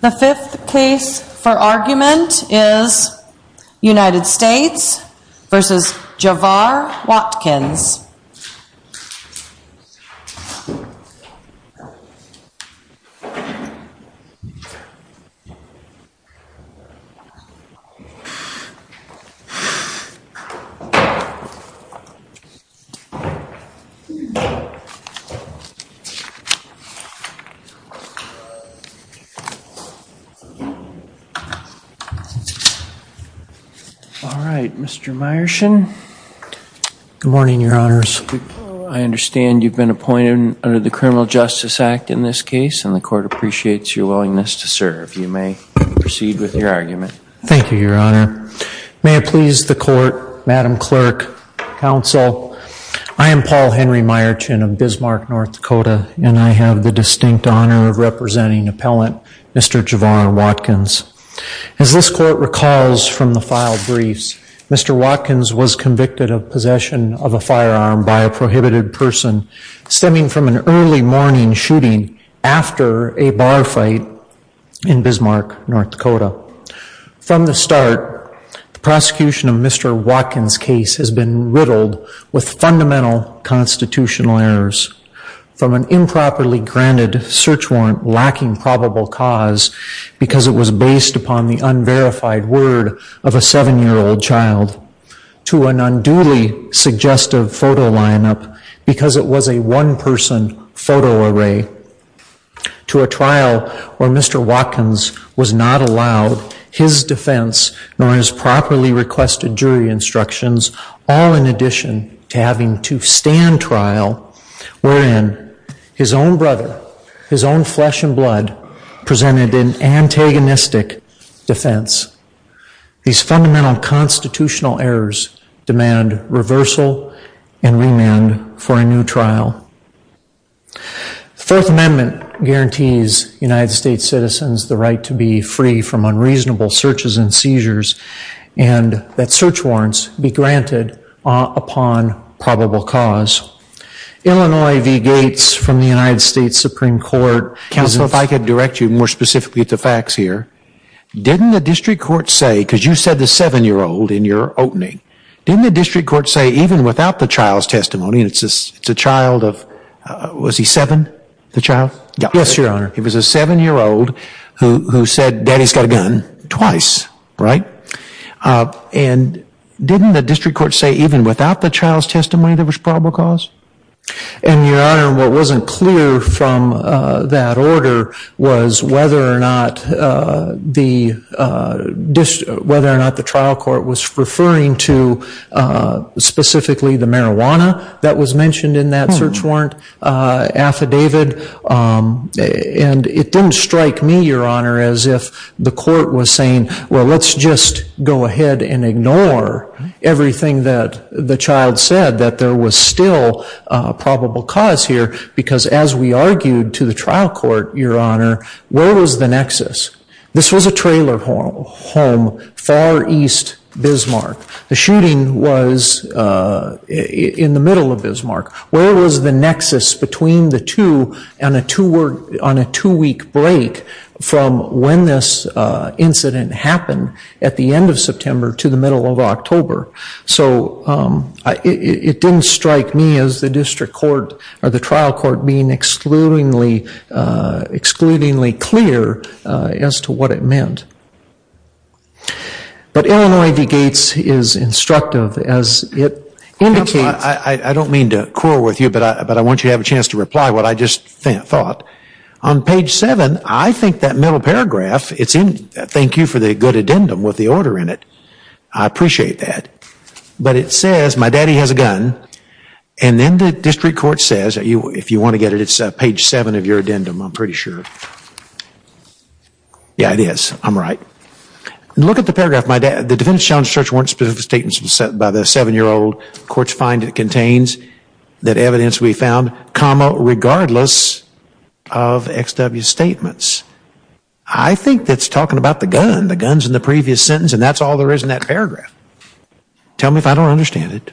The fifth case for argument is United States v. Javaar Watkins. Mr. Meyerson, I understand you've been appointed under the Criminal Justice Act in this case and the court appreciates your willingness to serve. You may proceed with your argument. Thank you, Your Honor. May it please the court, Madam Clerk, counsel, I am Paul Henry Meyerson of Bismarck, North Dakota, and I have the distinct honor of representing Appellant Mr. Javaar Watkins. As this court recalls from the filed briefs, Mr. Watkins was convicted of possession of a firearm by a prohibited person stemming from an early morning shooting after a bar fight in Bismarck, North Dakota. From the start, the prosecution of Mr. Watkins' case has been riddled with fundamental constitutional errors, from an improperly granted search warrant lacking probable cause because it was based upon the unverified word of a seven-year-old child, to an unduly suggestive photo lineup because it was a one-person photo array, to a trial where Mr. Watkins was not allowed his defense nor his properly requested jury instructions, all in addition to having to stand trial wherein his own brother, his own flesh and blood, presented an antagonistic defense. These fundamental constitutional errors demand reversal and remand for a new trial. The Fourth Amendment guarantees United States citizens the right to be free from unreasonable searches and seizures, and that search warrants be granted upon probable cause. Illinois v. Gates from the United States Supreme Court, Counselor, if I could direct you more specifically to facts here, didn't the district court say, because you said the seven-year-old in your opening, didn't the district court say even without the child's testimony, and it's a child of, was he seven, the child? Yes, Your Honor. He was a seven-year-old who said, Daddy's got a gun, twice, right? And didn't the district court say even without the child's testimony there was probable cause? And Your Honor, what wasn't clear from that order was whether or not the trial court was And it didn't strike me, Your Honor, as if the court was saying, well, let's just go ahead and ignore everything that the child said, that there was still probable cause here, because as we argued to the trial court, Your Honor, where was the nexus? This was a trailer home, far east Bismarck. The shooting was in the middle of Bismarck. Where was the nexus between the two on a two-week break from when this incident happened at the end of September to the middle of October? So it didn't strike me as the district court or the trial court being excludingly clear as to what it meant. But Illinois v. Gates is instructive, as it indicates. I don't mean to quarrel with you, but I want you to have a chance to reply what I just thought. On page 7, I think that middle paragraph, it's in, thank you for the good addendum with the order in it. I appreciate that. But it says, my daddy has a gun. And then the district court says, if you want to get it, it's page 7 of your addendum, I'm pretty sure. Yeah, it is. I'm right. Look at the paragraph. The defendant's challenge to search warrant specific statements by the seven-year-old. Courts find it contains that evidence we found, comma, regardless of XW's statements. I think that's talking about the gun. The gun's in the previous sentence. And that's all there is in that paragraph. Tell me if I don't understand it.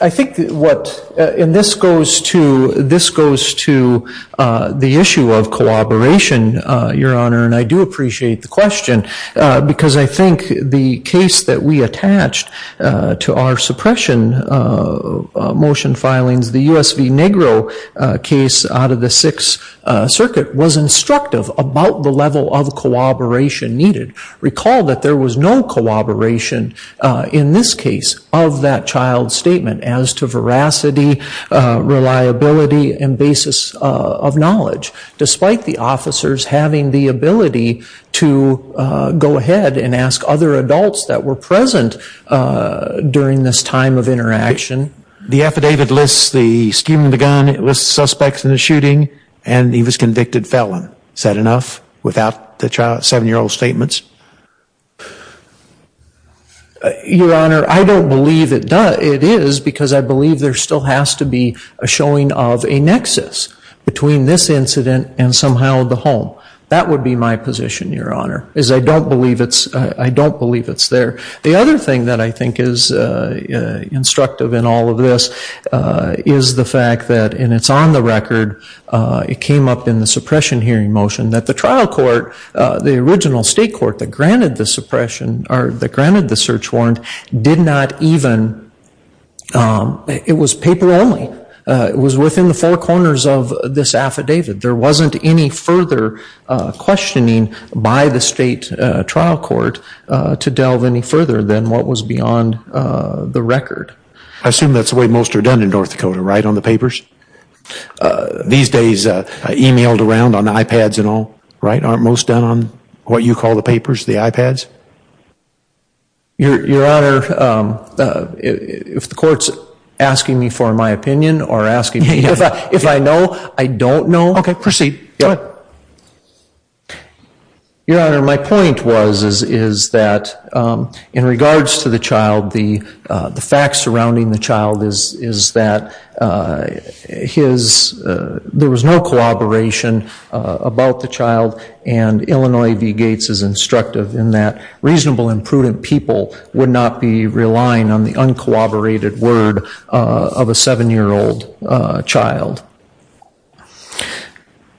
I think what, and this goes to the issue of collaboration, Your Honor, and I do appreciate the question, because I think the case that we attached to our suppression motion filings, the US v. Negro case out of the Sixth Circuit, was instructive about the level of collaboration needed. Recall that there was no collaboration in this case of that child's statement as to veracity, reliability, and basis of knowledge, despite the officers having the ability to go ahead and ask other adults that were present during this time of interaction. The affidavit lists the scheme of the gun, it lists suspects in the shooting, and he was convicted felon. Is that enough without the seven-year-old's statements? Your Honor, I don't believe it is, because I believe there still has to be a showing of a nexus between this incident and somehow the home. That would be my position, Your Honor, is I don't believe it's there. The other thing that I think is instructive in all of this is the fact that, and it's on the record, it came up in the suppression hearing motion, that the trial court, the original state court that granted the suppression, or that granted the search warrant, did not even, it was paper only, it was within the four corners of this affidavit. There wasn't any further questioning by the state trial court to delve any further than what was beyond the record. I assume that's the way most are done in North Dakota, right, on the papers? These days, emailed around on iPads and all, right, aren't most done on what you call the papers, the iPads? Your Honor, if the court's asking me for my opinion or asking me if I know, I don't know. Okay, proceed. Go ahead. Your Honor, my point was, is that in regards to the child, the facts surrounding the child is that his, there was no collaboration about the child, and Illinois v. Gates is instructive in that reasonable and prudent people would not be relying on the uncooperated word of a seven-year-old child.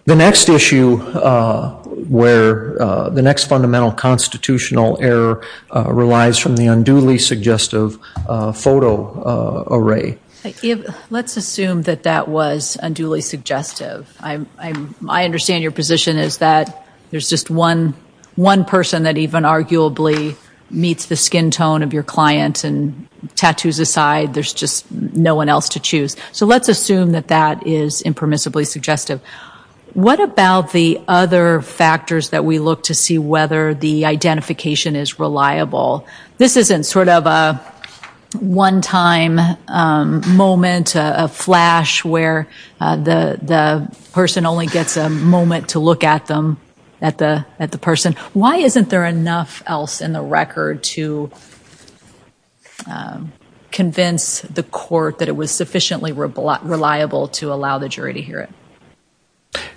The next issue where the next fundamental constitutional error relies from the unduly suggestive photo array. Let's assume that that was unduly suggestive. I understand your position is that there's just one person that even arguably meets the to choose. So let's assume that that is impermissibly suggestive. What about the other factors that we look to see whether the identification is reliable? This isn't sort of a one-time moment, a flash where the person only gets a moment to look at them, at the person. Why isn't there enough else in the record to convince the court that it was sufficiently reliable to allow the jury to hear it?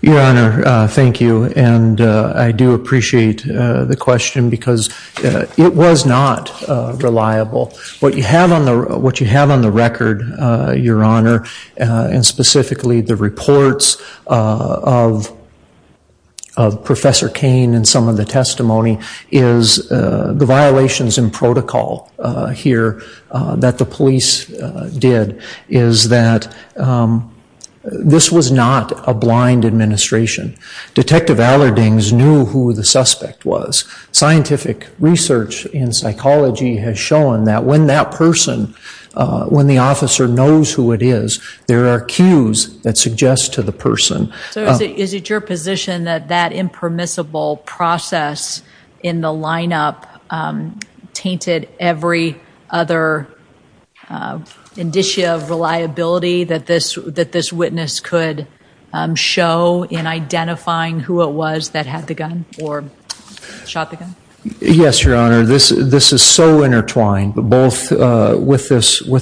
Your Honor, thank you, and I do appreciate the question because it was not reliable. What you have on the record, Your Honor, and specifically the reports of Professor Cain and some of the testimony is the violations in protocol here that the police did is that this was not a blind administration. Detective Allerdings knew who the suspect was. Scientific research in psychology has shown that when that person, when the officer knows who it is, there are cues that suggest to the person. So is it your position that that impermissible process in the lineup tainted every other indicia of reliability that this witness could show in identifying who it was that had the gun or shot the gun? Yes, Your Honor. This is so intertwined, both with this photo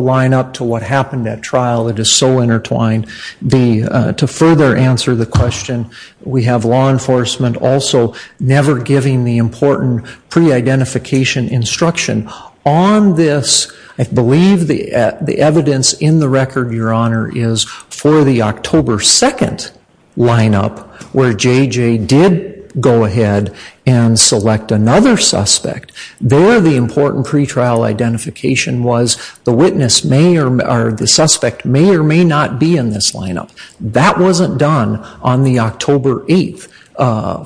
lineup to what happened at trial. It is so intertwined. To further answer the question, we have law enforcement also never giving the important pre-identification instruction. On this, I believe the evidence in the record, Your Honor, is for the October 2nd lineup where J.J. did go ahead and select another suspect. There, the important pre-trial identification was the witness may or the suspect may or may not be in this lineup. That wasn't done on the October 8th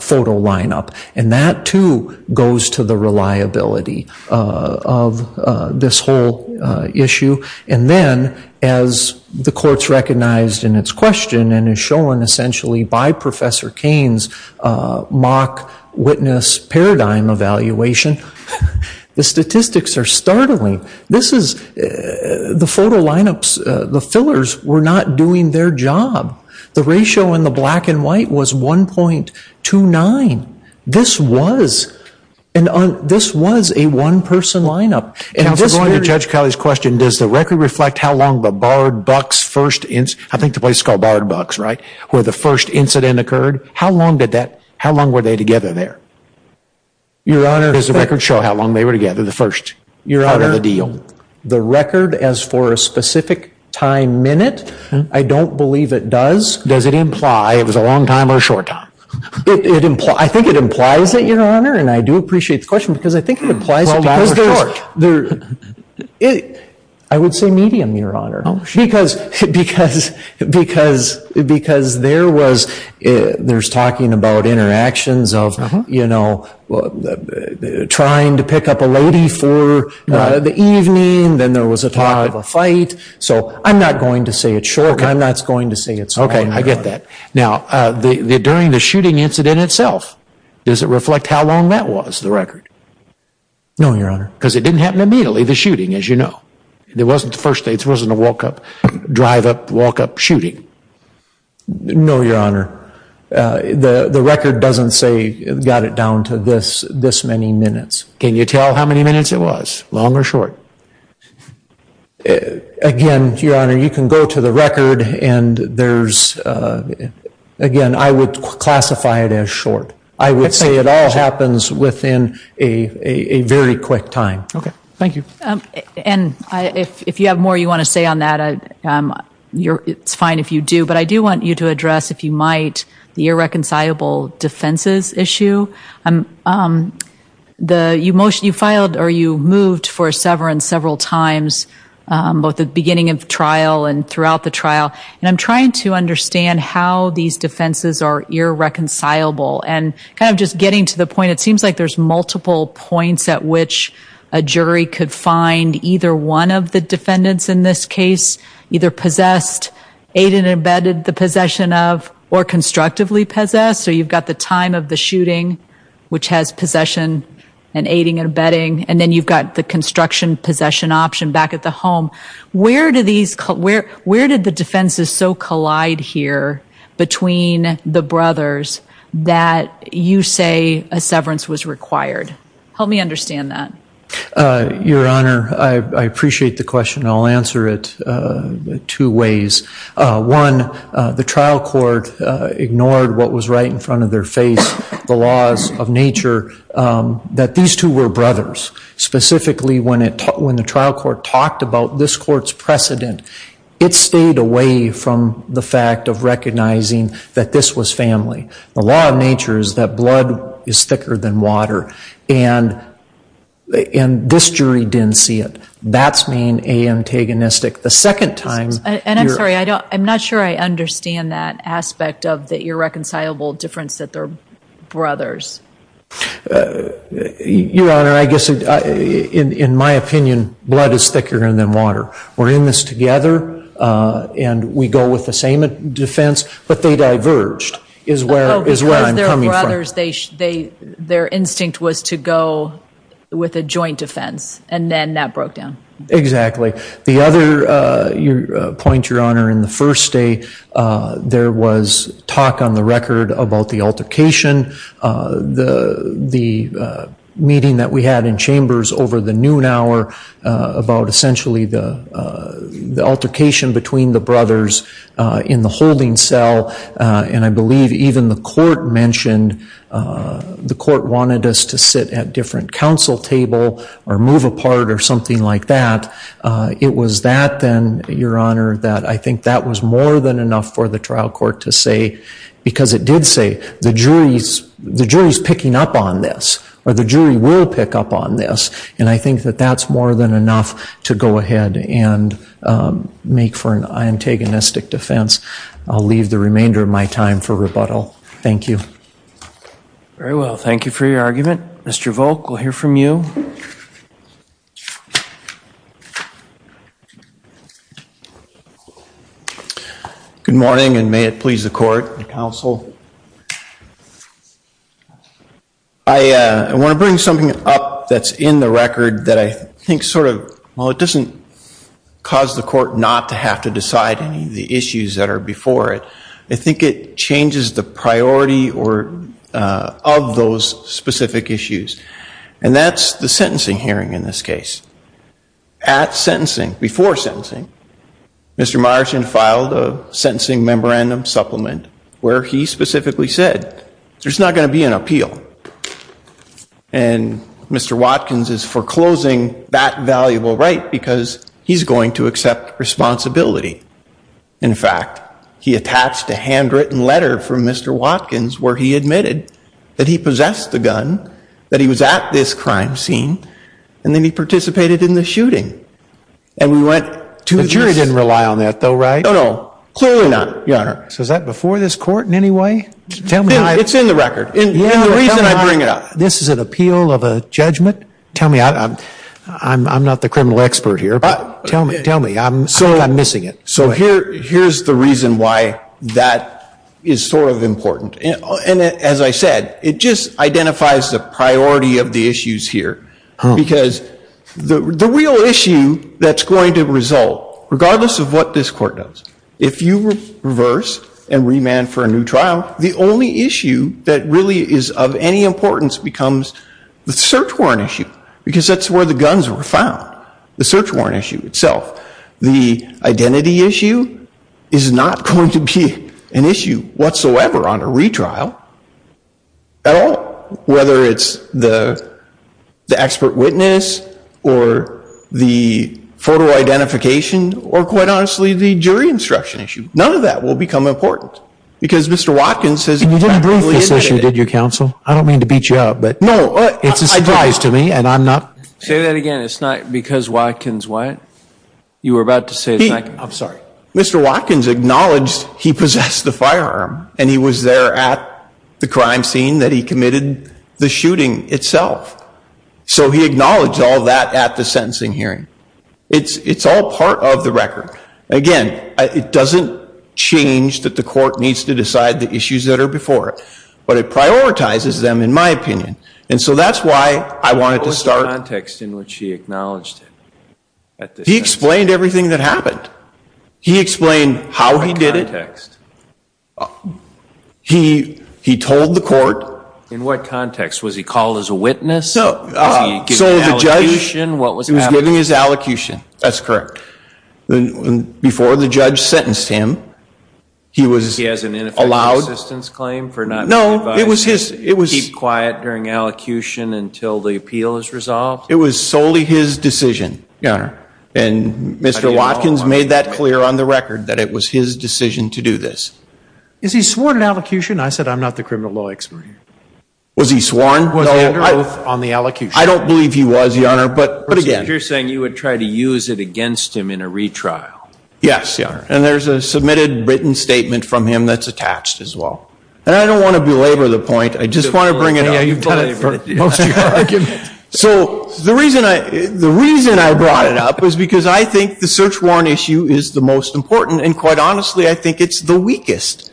photo lineup. And that, too, goes to the reliability of this whole issue. And then, as the courts recognized in its question and is shown essentially by Professor Cain's mock witness paradigm evaluation, the statistics are startling. The photo lineups, the fillers, were not doing their job. The ratio in the black and white was 1.29. This was a one-person lineup. Counsel, going to Judge Kelly's question, does the record reflect how long the Bard Bucks first incident, I think the place is called Bard Bucks, right, where the first incident occurred? How long did that, how long were they together there? Your Honor. Does the record show how long they were together, the first part of the deal? The record, as for a specific time minute, I don't believe it does. Does it imply it was a long time or a short time? I think it implies it, Your Honor, and I do appreciate the question because I think it implies it because there, I would say medium, Your Honor, because, because, because, because there was, there's talking about interactions of, you know, trying to pick up a lady for the evening, then there was a talk of a fight, so I'm not going to say it's short, I'm not going to say it's long, Your Honor. Okay, I get that. Now, the, the, during the shooting incident itself, does it reflect how long that was, the record? No, Your Honor. Because it didn't happen immediately, the shooting, as you know. It wasn't the first day, it wasn't a walk-up, drive-up, walk-up shooting. No, Your Honor, the, the record doesn't say, got it down to this, this many minutes. Can you tell how many minutes it was, long or short? Again, Your Honor, you can go to the record and there's, again, I would classify it as short. I would say it all happens within a, a, a very quick time. Okay, thank you. And I, if, if you have more you want to say on that, I, you're, it's fine if you do, but I do want you to address, if you might, the irreconcilable defenses issue. I'm, the, you motion, you filed, or you moved for a severance several times, both at the beginning of the trial and throughout the trial, and I'm trying to understand how these defenses are irreconcilable, and kind of just getting to the point, it seems like there's either one of the defendants in this case, either possessed, aided and abetted the possession of, or constructively possessed, so you've got the time of the shooting, which has possession and aiding and abetting, and then you've got the construction possession option back at the home. Where do these, where, where did the defenses so collide here between the brothers that you say a severance was required? Help me understand that. Your Honor, I, I appreciate the question, I'll answer it two ways. One, the trial court ignored what was right in front of their face, the laws of nature, that these two were brothers, specifically when it, when the trial court talked about this court's precedent, it stayed away from the fact of recognizing that this was family. The law of nature is that blood is thicker than water, and, and this jury didn't see it. That's being antagonistic. The second time... And I'm sorry, I don't, I'm not sure I understand that aspect of the irreconcilable difference that they're brothers. Your Honor, I guess, in, in my opinion, blood is thicker than water. We're in this together, and we go with the same defense, but they diverged, is where, is where I'm coming from. Oh, because they're brothers, they, they, their instinct was to go with a joint defense, and then that broke down. Exactly. The other point, Your Honor, in the first day, there was talk on the record about the altercation, the, the meeting that we had in chambers over the noon hour about essentially the, the altercation between the brothers in the holding cell, and I believe even the court mentioned the court wanted us to sit at different council table or move apart or something like that. It was that, then, Your Honor, that I think that was more than enough for the trial court to say, because it did say, the jury's, the jury's picking up on this, or the jury will pick up on this, and I think that that's more than enough to go ahead and make for an antagonistic defense. I'll leave the remainder of my time for rebuttal. Thank you. Very well. Thank you for your argument. Mr. Volk, we'll hear from you. Good morning, and may it please the court and counsel. I want to bring something up that's in the record that I think sort of, well, it doesn't cause the court not to have to decide any of the issues that are before it. I think it changes the priority or, of those specific issues, and that's the sentencing hearing in this case. At sentencing, before sentencing, Mr. Myerson filed a sentencing memorandum supplement where he specifically said, there's not going to be an appeal, and Mr. Watkins is foreclosing that valuable right because he's going to accept responsibility. In fact, he attached a handwritten letter from Mr. Watkins where he admitted that he possessed the gun, that he was at this crime scene, and then he participated in the shooting, and we went to this. The jury didn't rely on that, though, right? No, no. Clearly not, Your Honor. So is that before this court in any way? Tell me. It's in the record. The reason I bring it up. This is an appeal of a judgment? Tell me. I'm not the criminal expert here, but tell me. Tell me. I'm missing it. So here's the reason why that is sort of important, and as I said, it just identifies the priority of the issues here because the real issue that's going to result, regardless of what this court does, if you reverse and remand for a new trial, the only issue that really is of any importance becomes the search warrant issue because that's where the guns were found, the search warrant issue itself. The identity issue is not going to be an issue whatsoever on a retrial at all, whether it's the expert witness or the photo identification or, quite honestly, the jury instruction issue. None of that will become important because Mr. Watkins has practically admitted it. And you didn't brief this issue, did you, counsel? I don't mean to beat you up, but it's a surprise to me, and I'm not— Say that again. It's not because Watkins, what? You were about to say— I'm sorry. Mr. Watkins acknowledged he possessed the firearm, and he was there at the crime scene that he committed the shooting itself. So he acknowledged all that at the sentencing hearing. It's all part of the record. Again, it doesn't change that the court needs to decide the issues that are before it, but it prioritizes them, in my opinion. And so that's why I wanted to start— What was the context in which he acknowledged it? He explained how he did it. What context? He told the court— In what context? Was he called as a witness? So the judge— Was he giving an allocution? What was happening? He was giving his allocution. That's correct. And before the judge sentenced him, he was allowed— He has an ineffective assistance claim for not being advised to keep quiet during allocution until the appeal is resolved? It was solely his decision, Your Honor, and Mr. Watkins made that clear on the record that it was his decision to do this. Is he sworn in allocution? I said I'm not the criminal law expert here. Was he sworn? Was he under oath on the allocution? I don't believe he was, Your Honor, but again— But you're saying you would try to use it against him in a retrial. Yes, Your Honor. And there's a submitted written statement from him that's attached as well. And I don't want to belabor the point. I just want to bring it up. Yeah, you've done it for most of your argument. So the reason I brought it up is because I think the search warrant issue is the most important, and quite honestly, I think it's the weakest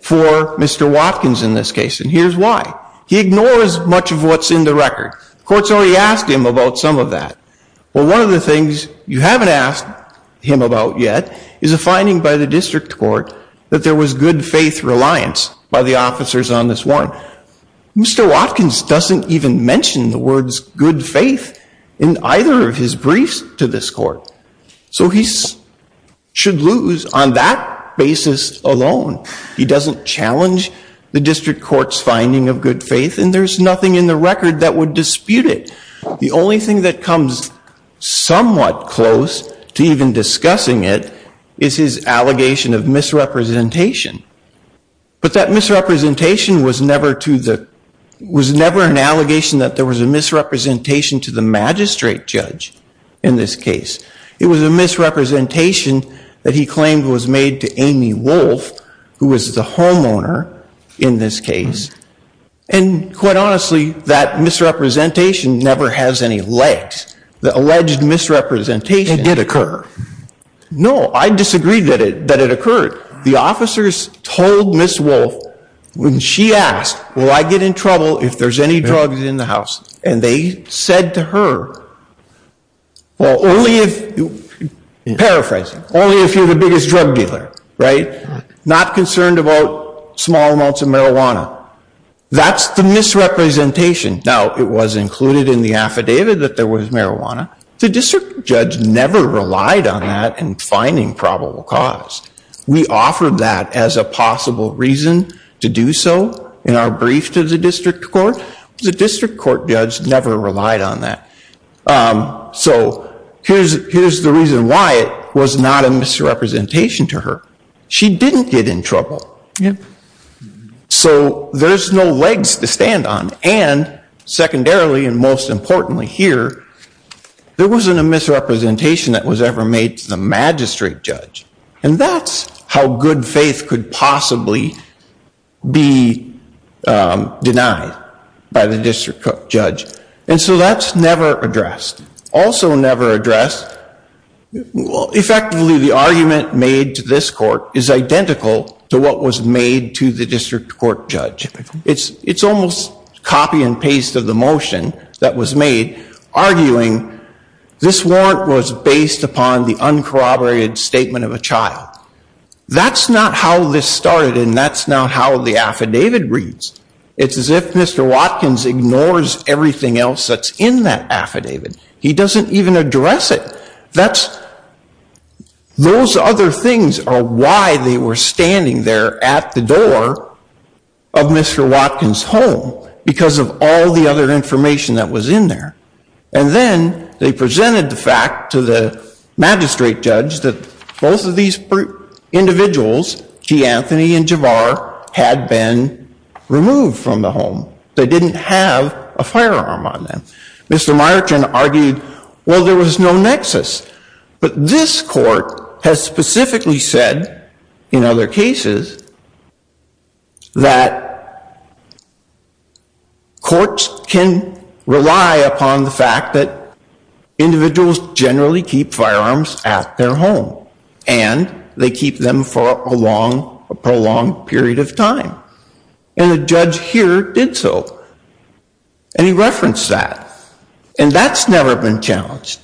for Mr. Watkins in this case. And here's why. He ignores much of what's in the record. The court's already asked him about some of that. Well, one of the things you haven't asked him about yet is a finding by the district court that there was good faith reliance by the officers on this warrant. Mr. Watkins doesn't even mention the words good faith in either of his briefs to this court. So he should lose on that basis alone. He doesn't challenge the district court's finding of good faith, and there's nothing in the record that would dispute it. The only thing that comes somewhat close to even discussing it is his allegation of misrepresentation. But that misrepresentation was never to the—was never an allegation that there was a misrepresentation to the magistrate judge in this case. It was a misrepresentation that he claimed was made to Amy Wolfe, who was the homeowner in this case, and quite honestly, that misrepresentation never has any legs. The alleged misrepresentation— It did occur. No. I disagree that it occurred. The officers told Ms. Wolfe, when she asked, will I get in trouble if there's any drugs in the house? And they said to her, well, only if—paraphrasing—only if you're the biggest drug dealer, right? Not concerned about small amounts of marijuana. That's the misrepresentation. Now, it was included in the affidavit that there was marijuana. The district judge never relied on that in finding probable cause. We offered that as a possible reason to do so in our brief to the district court. The district court judge never relied on that. So here's the reason why it was not a misrepresentation to her. She didn't get in trouble. So there's no legs to stand on. And secondarily, and most importantly here, there wasn't a misrepresentation that was ever made to the magistrate judge. And that's how good faith could possibly be denied by the district judge. And so that's never addressed. Also never addressed, effectively the argument made to this court is identical to what was made to the district court judge. It's almost copy and paste of the motion that was made, arguing this warrant was based upon the uncorroborated statement of a child. That's not how this started and that's not how the affidavit reads. It's as if Mr. Watkins ignores everything else that's in that affidavit. He doesn't even address it. Those other things are why they were standing there at the door of Mr. Watkins' home because of all the other information that was in there. And then they presented the fact to the magistrate judge that both of these individuals, G. Anthony and Javar, had been removed from the home. They didn't have a firearm on them. Mr. Myerton argued, well, there was no nexus. But this court has specifically said in other cases that courts can rely upon the fact that individuals generally keep firearms at their home and they keep them for a long period of time. And the judge here did so. And he referenced that. And that's never been challenged.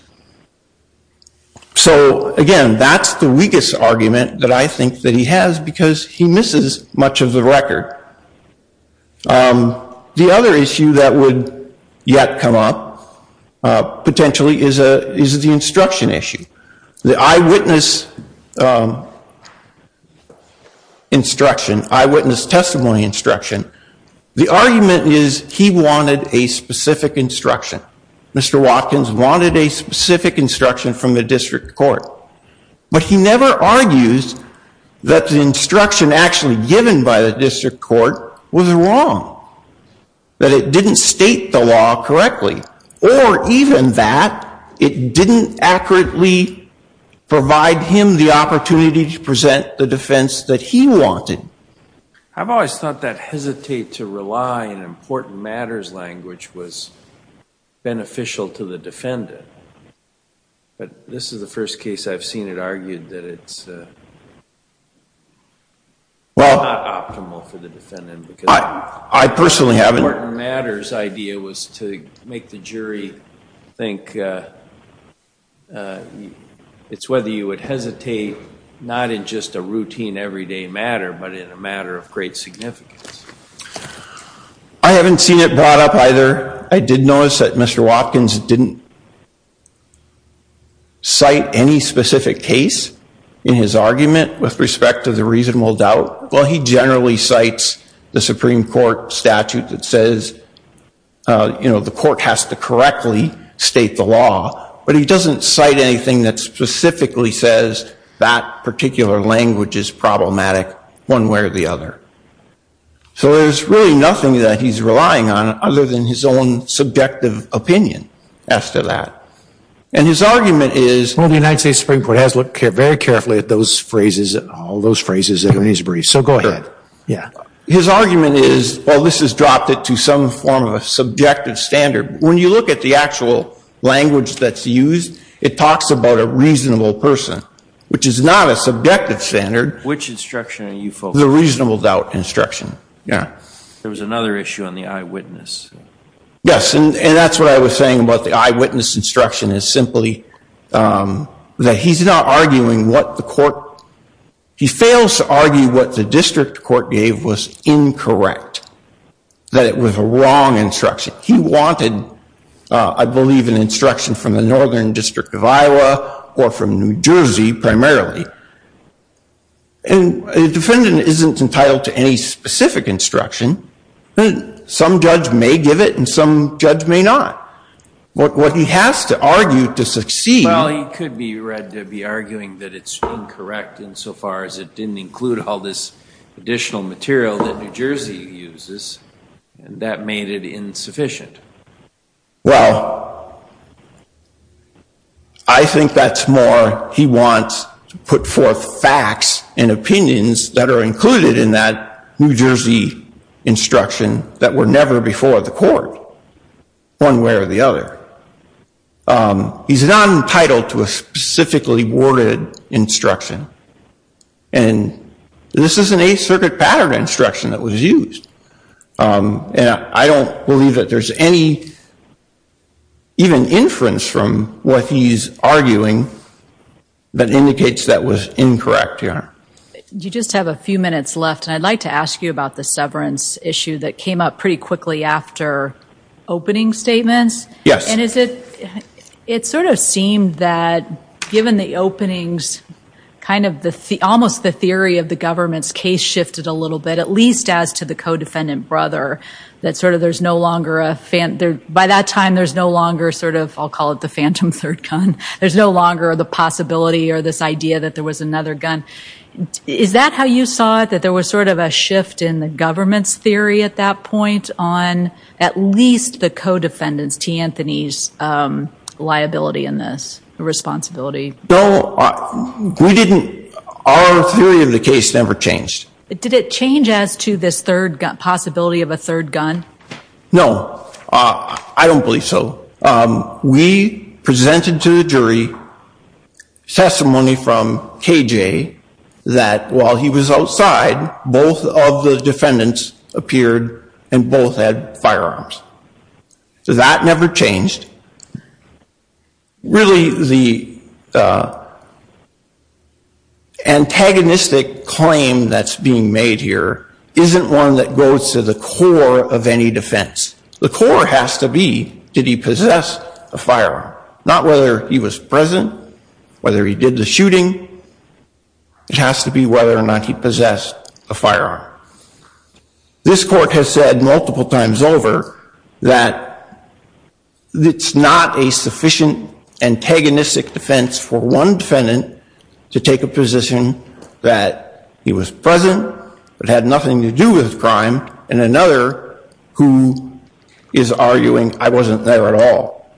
So again, that's the weakest argument that I think that he has because he misses much of the record. The other issue that would yet come up potentially is the instruction issue. The eyewitness instruction, eyewitness testimony instruction. The argument is he wanted a specific instruction. Mr. Watkins wanted a specific instruction from the district court. But he never argues that the instruction actually given by the district court was wrong. That it didn't state the law correctly. Or even that it didn't accurately provide him the opportunity to present the defense that he wanted. I've always thought that hesitate to rely on important matters language was beneficial to the defendant. But this is the first case I've seen it argued that it's not optimal for the defendant. I personally haven't. The important matters idea was to make the jury think it's whether you would hesitate, not in just a routine everyday matter, but in a matter of great significance. I haven't seen it brought up either. I did notice that Mr. Watkins didn't cite any specific case in his argument with respect to the reasonable doubt. Well, he generally cites the Supreme Court statute that says, you know, the court has to correctly state the law. But he doesn't cite anything that specifically says that particular language is problematic one way or the other. So there's really nothing that he's relying on other than his own subjective opinion as to that. And his argument is, well, the United States Supreme Court has looked very carefully at those phrases, all those phrases in his brief. So go ahead. Yeah. His argument is, well, this has dropped it to some form of subjective standard. When you look at the actual language that's used, it talks about a reasonable person, which is not a subjective standard. Which instruction are you focusing on? The reasonable doubt instruction. Yeah. There was another issue on the eyewitness. Yes. And that's what I was saying about the eyewitness instruction is simply that he's not arguing what the court, he fails to argue what the district court gave was incorrect, that it was a wrong instruction. He wanted, I believe, an instruction from the Northern District of Iowa or from New Jersey primarily. And a defendant isn't entitled to any specific instruction. Some judge may give it and some judge may not. What he has to argue to succeed. Well, he could be read to be arguing that it's incorrect insofar as it didn't include all this additional material that New Jersey uses. And that made it insufficient. Well, I think that's more he wants to put forth facts and opinions that are included in that New Jersey instruction that were never before the court, one way or the other. He's not entitled to a specifically worded instruction. And this is an Eighth Circuit pattern instruction that was used. And I don't believe that there's any even inference from what he's arguing that indicates that was incorrect here. You just have a few minutes left. And I'd like to ask you about the severance issue that came up pretty quickly after opening statements. Yes. And is it, it sort of seemed that given the openings, kind of the, almost the theory of the government's case shifted a little bit, at least as to the co-defendant brother, that sort of there's no longer a, by that time there's no longer sort of, I'll call it the phantom third gun. There's no longer the possibility or this idea that there was another gun. Is that how you saw it? That there was sort of a shift in the government's theory at that point on at least the co-defendants, T. Anthony's liability in this, responsibility. No, we didn't, our theory of the case never changed. Did it change as to this third gun, possibility of a third gun? No. I don't believe so. We presented to the jury testimony from K.J. that while he was outside, both of the defendants appeared and both had firearms. So that never changed. Really the antagonistic claim that's being made here isn't one that goes to the core of any defense. The core has to be, did he possess a firearm? Not whether he was present, whether he did the shooting. It has to be whether or not he possessed a firearm. This court has said multiple times over that it's not a sufficient antagonistic defense for one defendant to take a position that he was present, but had nothing to do with crime, and another who is arguing I wasn't there at all.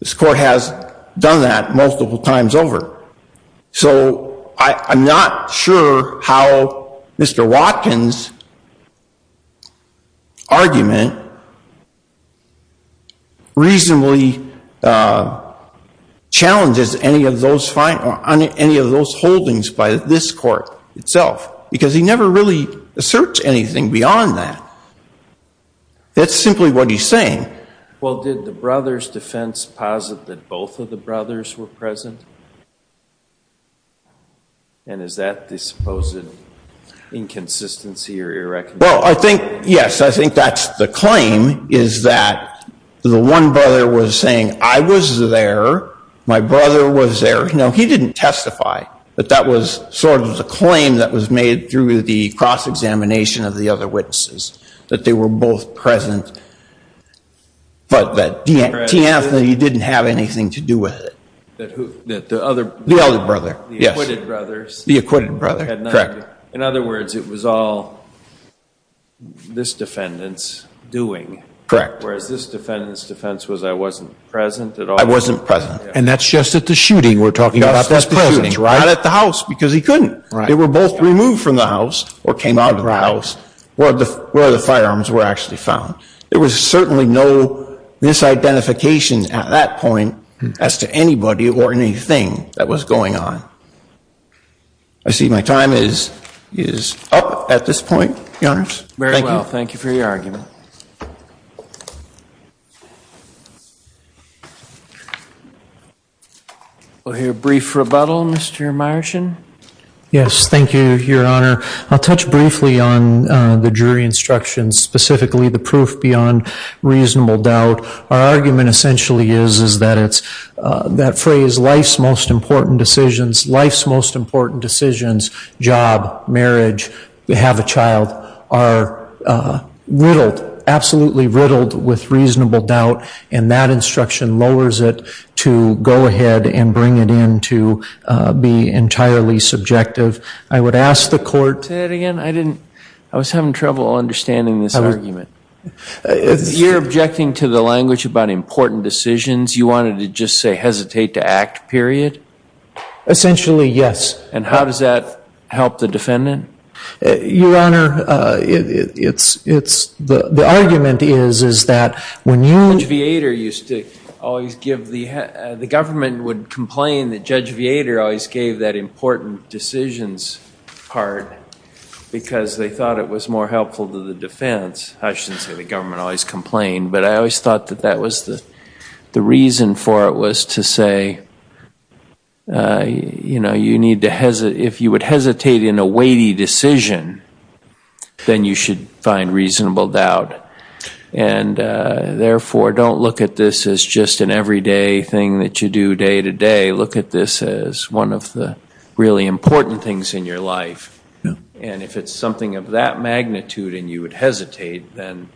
This court has done that multiple times over. So I'm not sure how Mr. Watkins' argument reasonably challenges any of those holdings by this court itself, because he never really asserts anything beyond that. That's simply what he's saying. Well, did the brother's defense posit that both of the brothers were present? And is that the supposed inconsistency or irreconcilability? Well, I think, yes, I think that's the claim, is that the one brother was saying I was there, my brother was there. No, he didn't testify, but that was sort of the claim that was made through the cross-examination of the other witnesses, that they were both present, but that T. Anthony didn't have anything to do with it. The other brother. Yes. The acquitted brother. The acquitted brother, correct. In other words, it was all this defendant's doing. Correct. Whereas this defendant's defense was I wasn't present at all. I wasn't present. And that's just at the shooting we're talking about. Not at the house, because he couldn't. They were both removed from the house or came out of the house. Where the firearms were actually found. There was certainly no misidentification at that point as to anybody or anything that was going on. I see my time is up at this point, Your Honor. Thank you. Very well. Thank you for your argument. We'll hear a brief rebuttal, Mr. Meyerson. Yes, thank you, Your Honor. I'll touch briefly on the jury instructions, specifically the proof beyond reasonable doubt. Our argument essentially is that phrase, life's most important decisions, life's most important decisions, job, marriage, have a child, are riddled, absolutely riddled with reasonable doubt. And that instruction lowers it to go ahead and bring it in to be entirely subjective. I would ask the court. Say that again? I didn't. I was having trouble understanding this argument. You're objecting to the language about important decisions. You wanted to just say hesitate to act, period? Essentially, yes. And how does that help the defendant? Your Honor, the argument is that when you. Judge Viator used to always give the. The government would complain that Judge Viator always gave that important decisions part because they thought it was more helpful to the defense. I shouldn't say the government always complained, but I always thought that that was the reason for it was to say, you know, you need to hesitate. If you would hesitate in a weighty decision, then you should find reasonable doubt. And therefore, don't look at this as just an everyday thing that you do day to day. Look at this as one of the really important things in your life. And if it's something of that magnitude and you would hesitate, then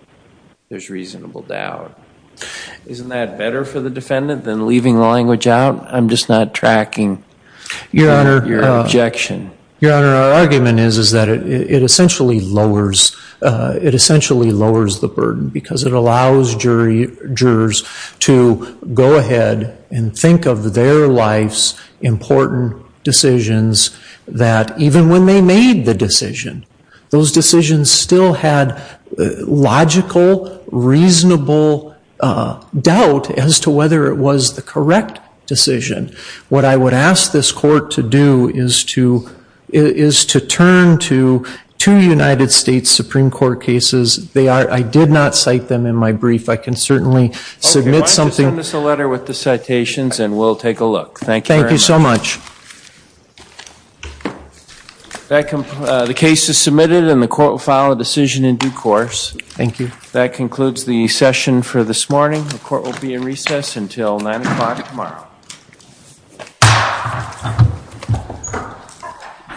there's reasonable doubt. Isn't that better for the defendant than leaving the language out? I'm just not tracking your objection. Your Honor, our argument is that it essentially lowers the burden because it allows jurors to go ahead and think of their life's important decisions that even when they made the decision, those decisions still had logical, reasonable doubt as to whether it was the correct decision. What I would ask this court to do is to turn to two United States Supreme Court cases. I did not cite them in my brief. I can certainly submit something. Okay, why don't you send us a letter with the citations and we'll take a look. Thank you very much. Thank you so much. The case is submitted and the court will file a decision in due course. Thank you. That concludes the session for this morning. The court will be in recess until 9 o'clock tomorrow.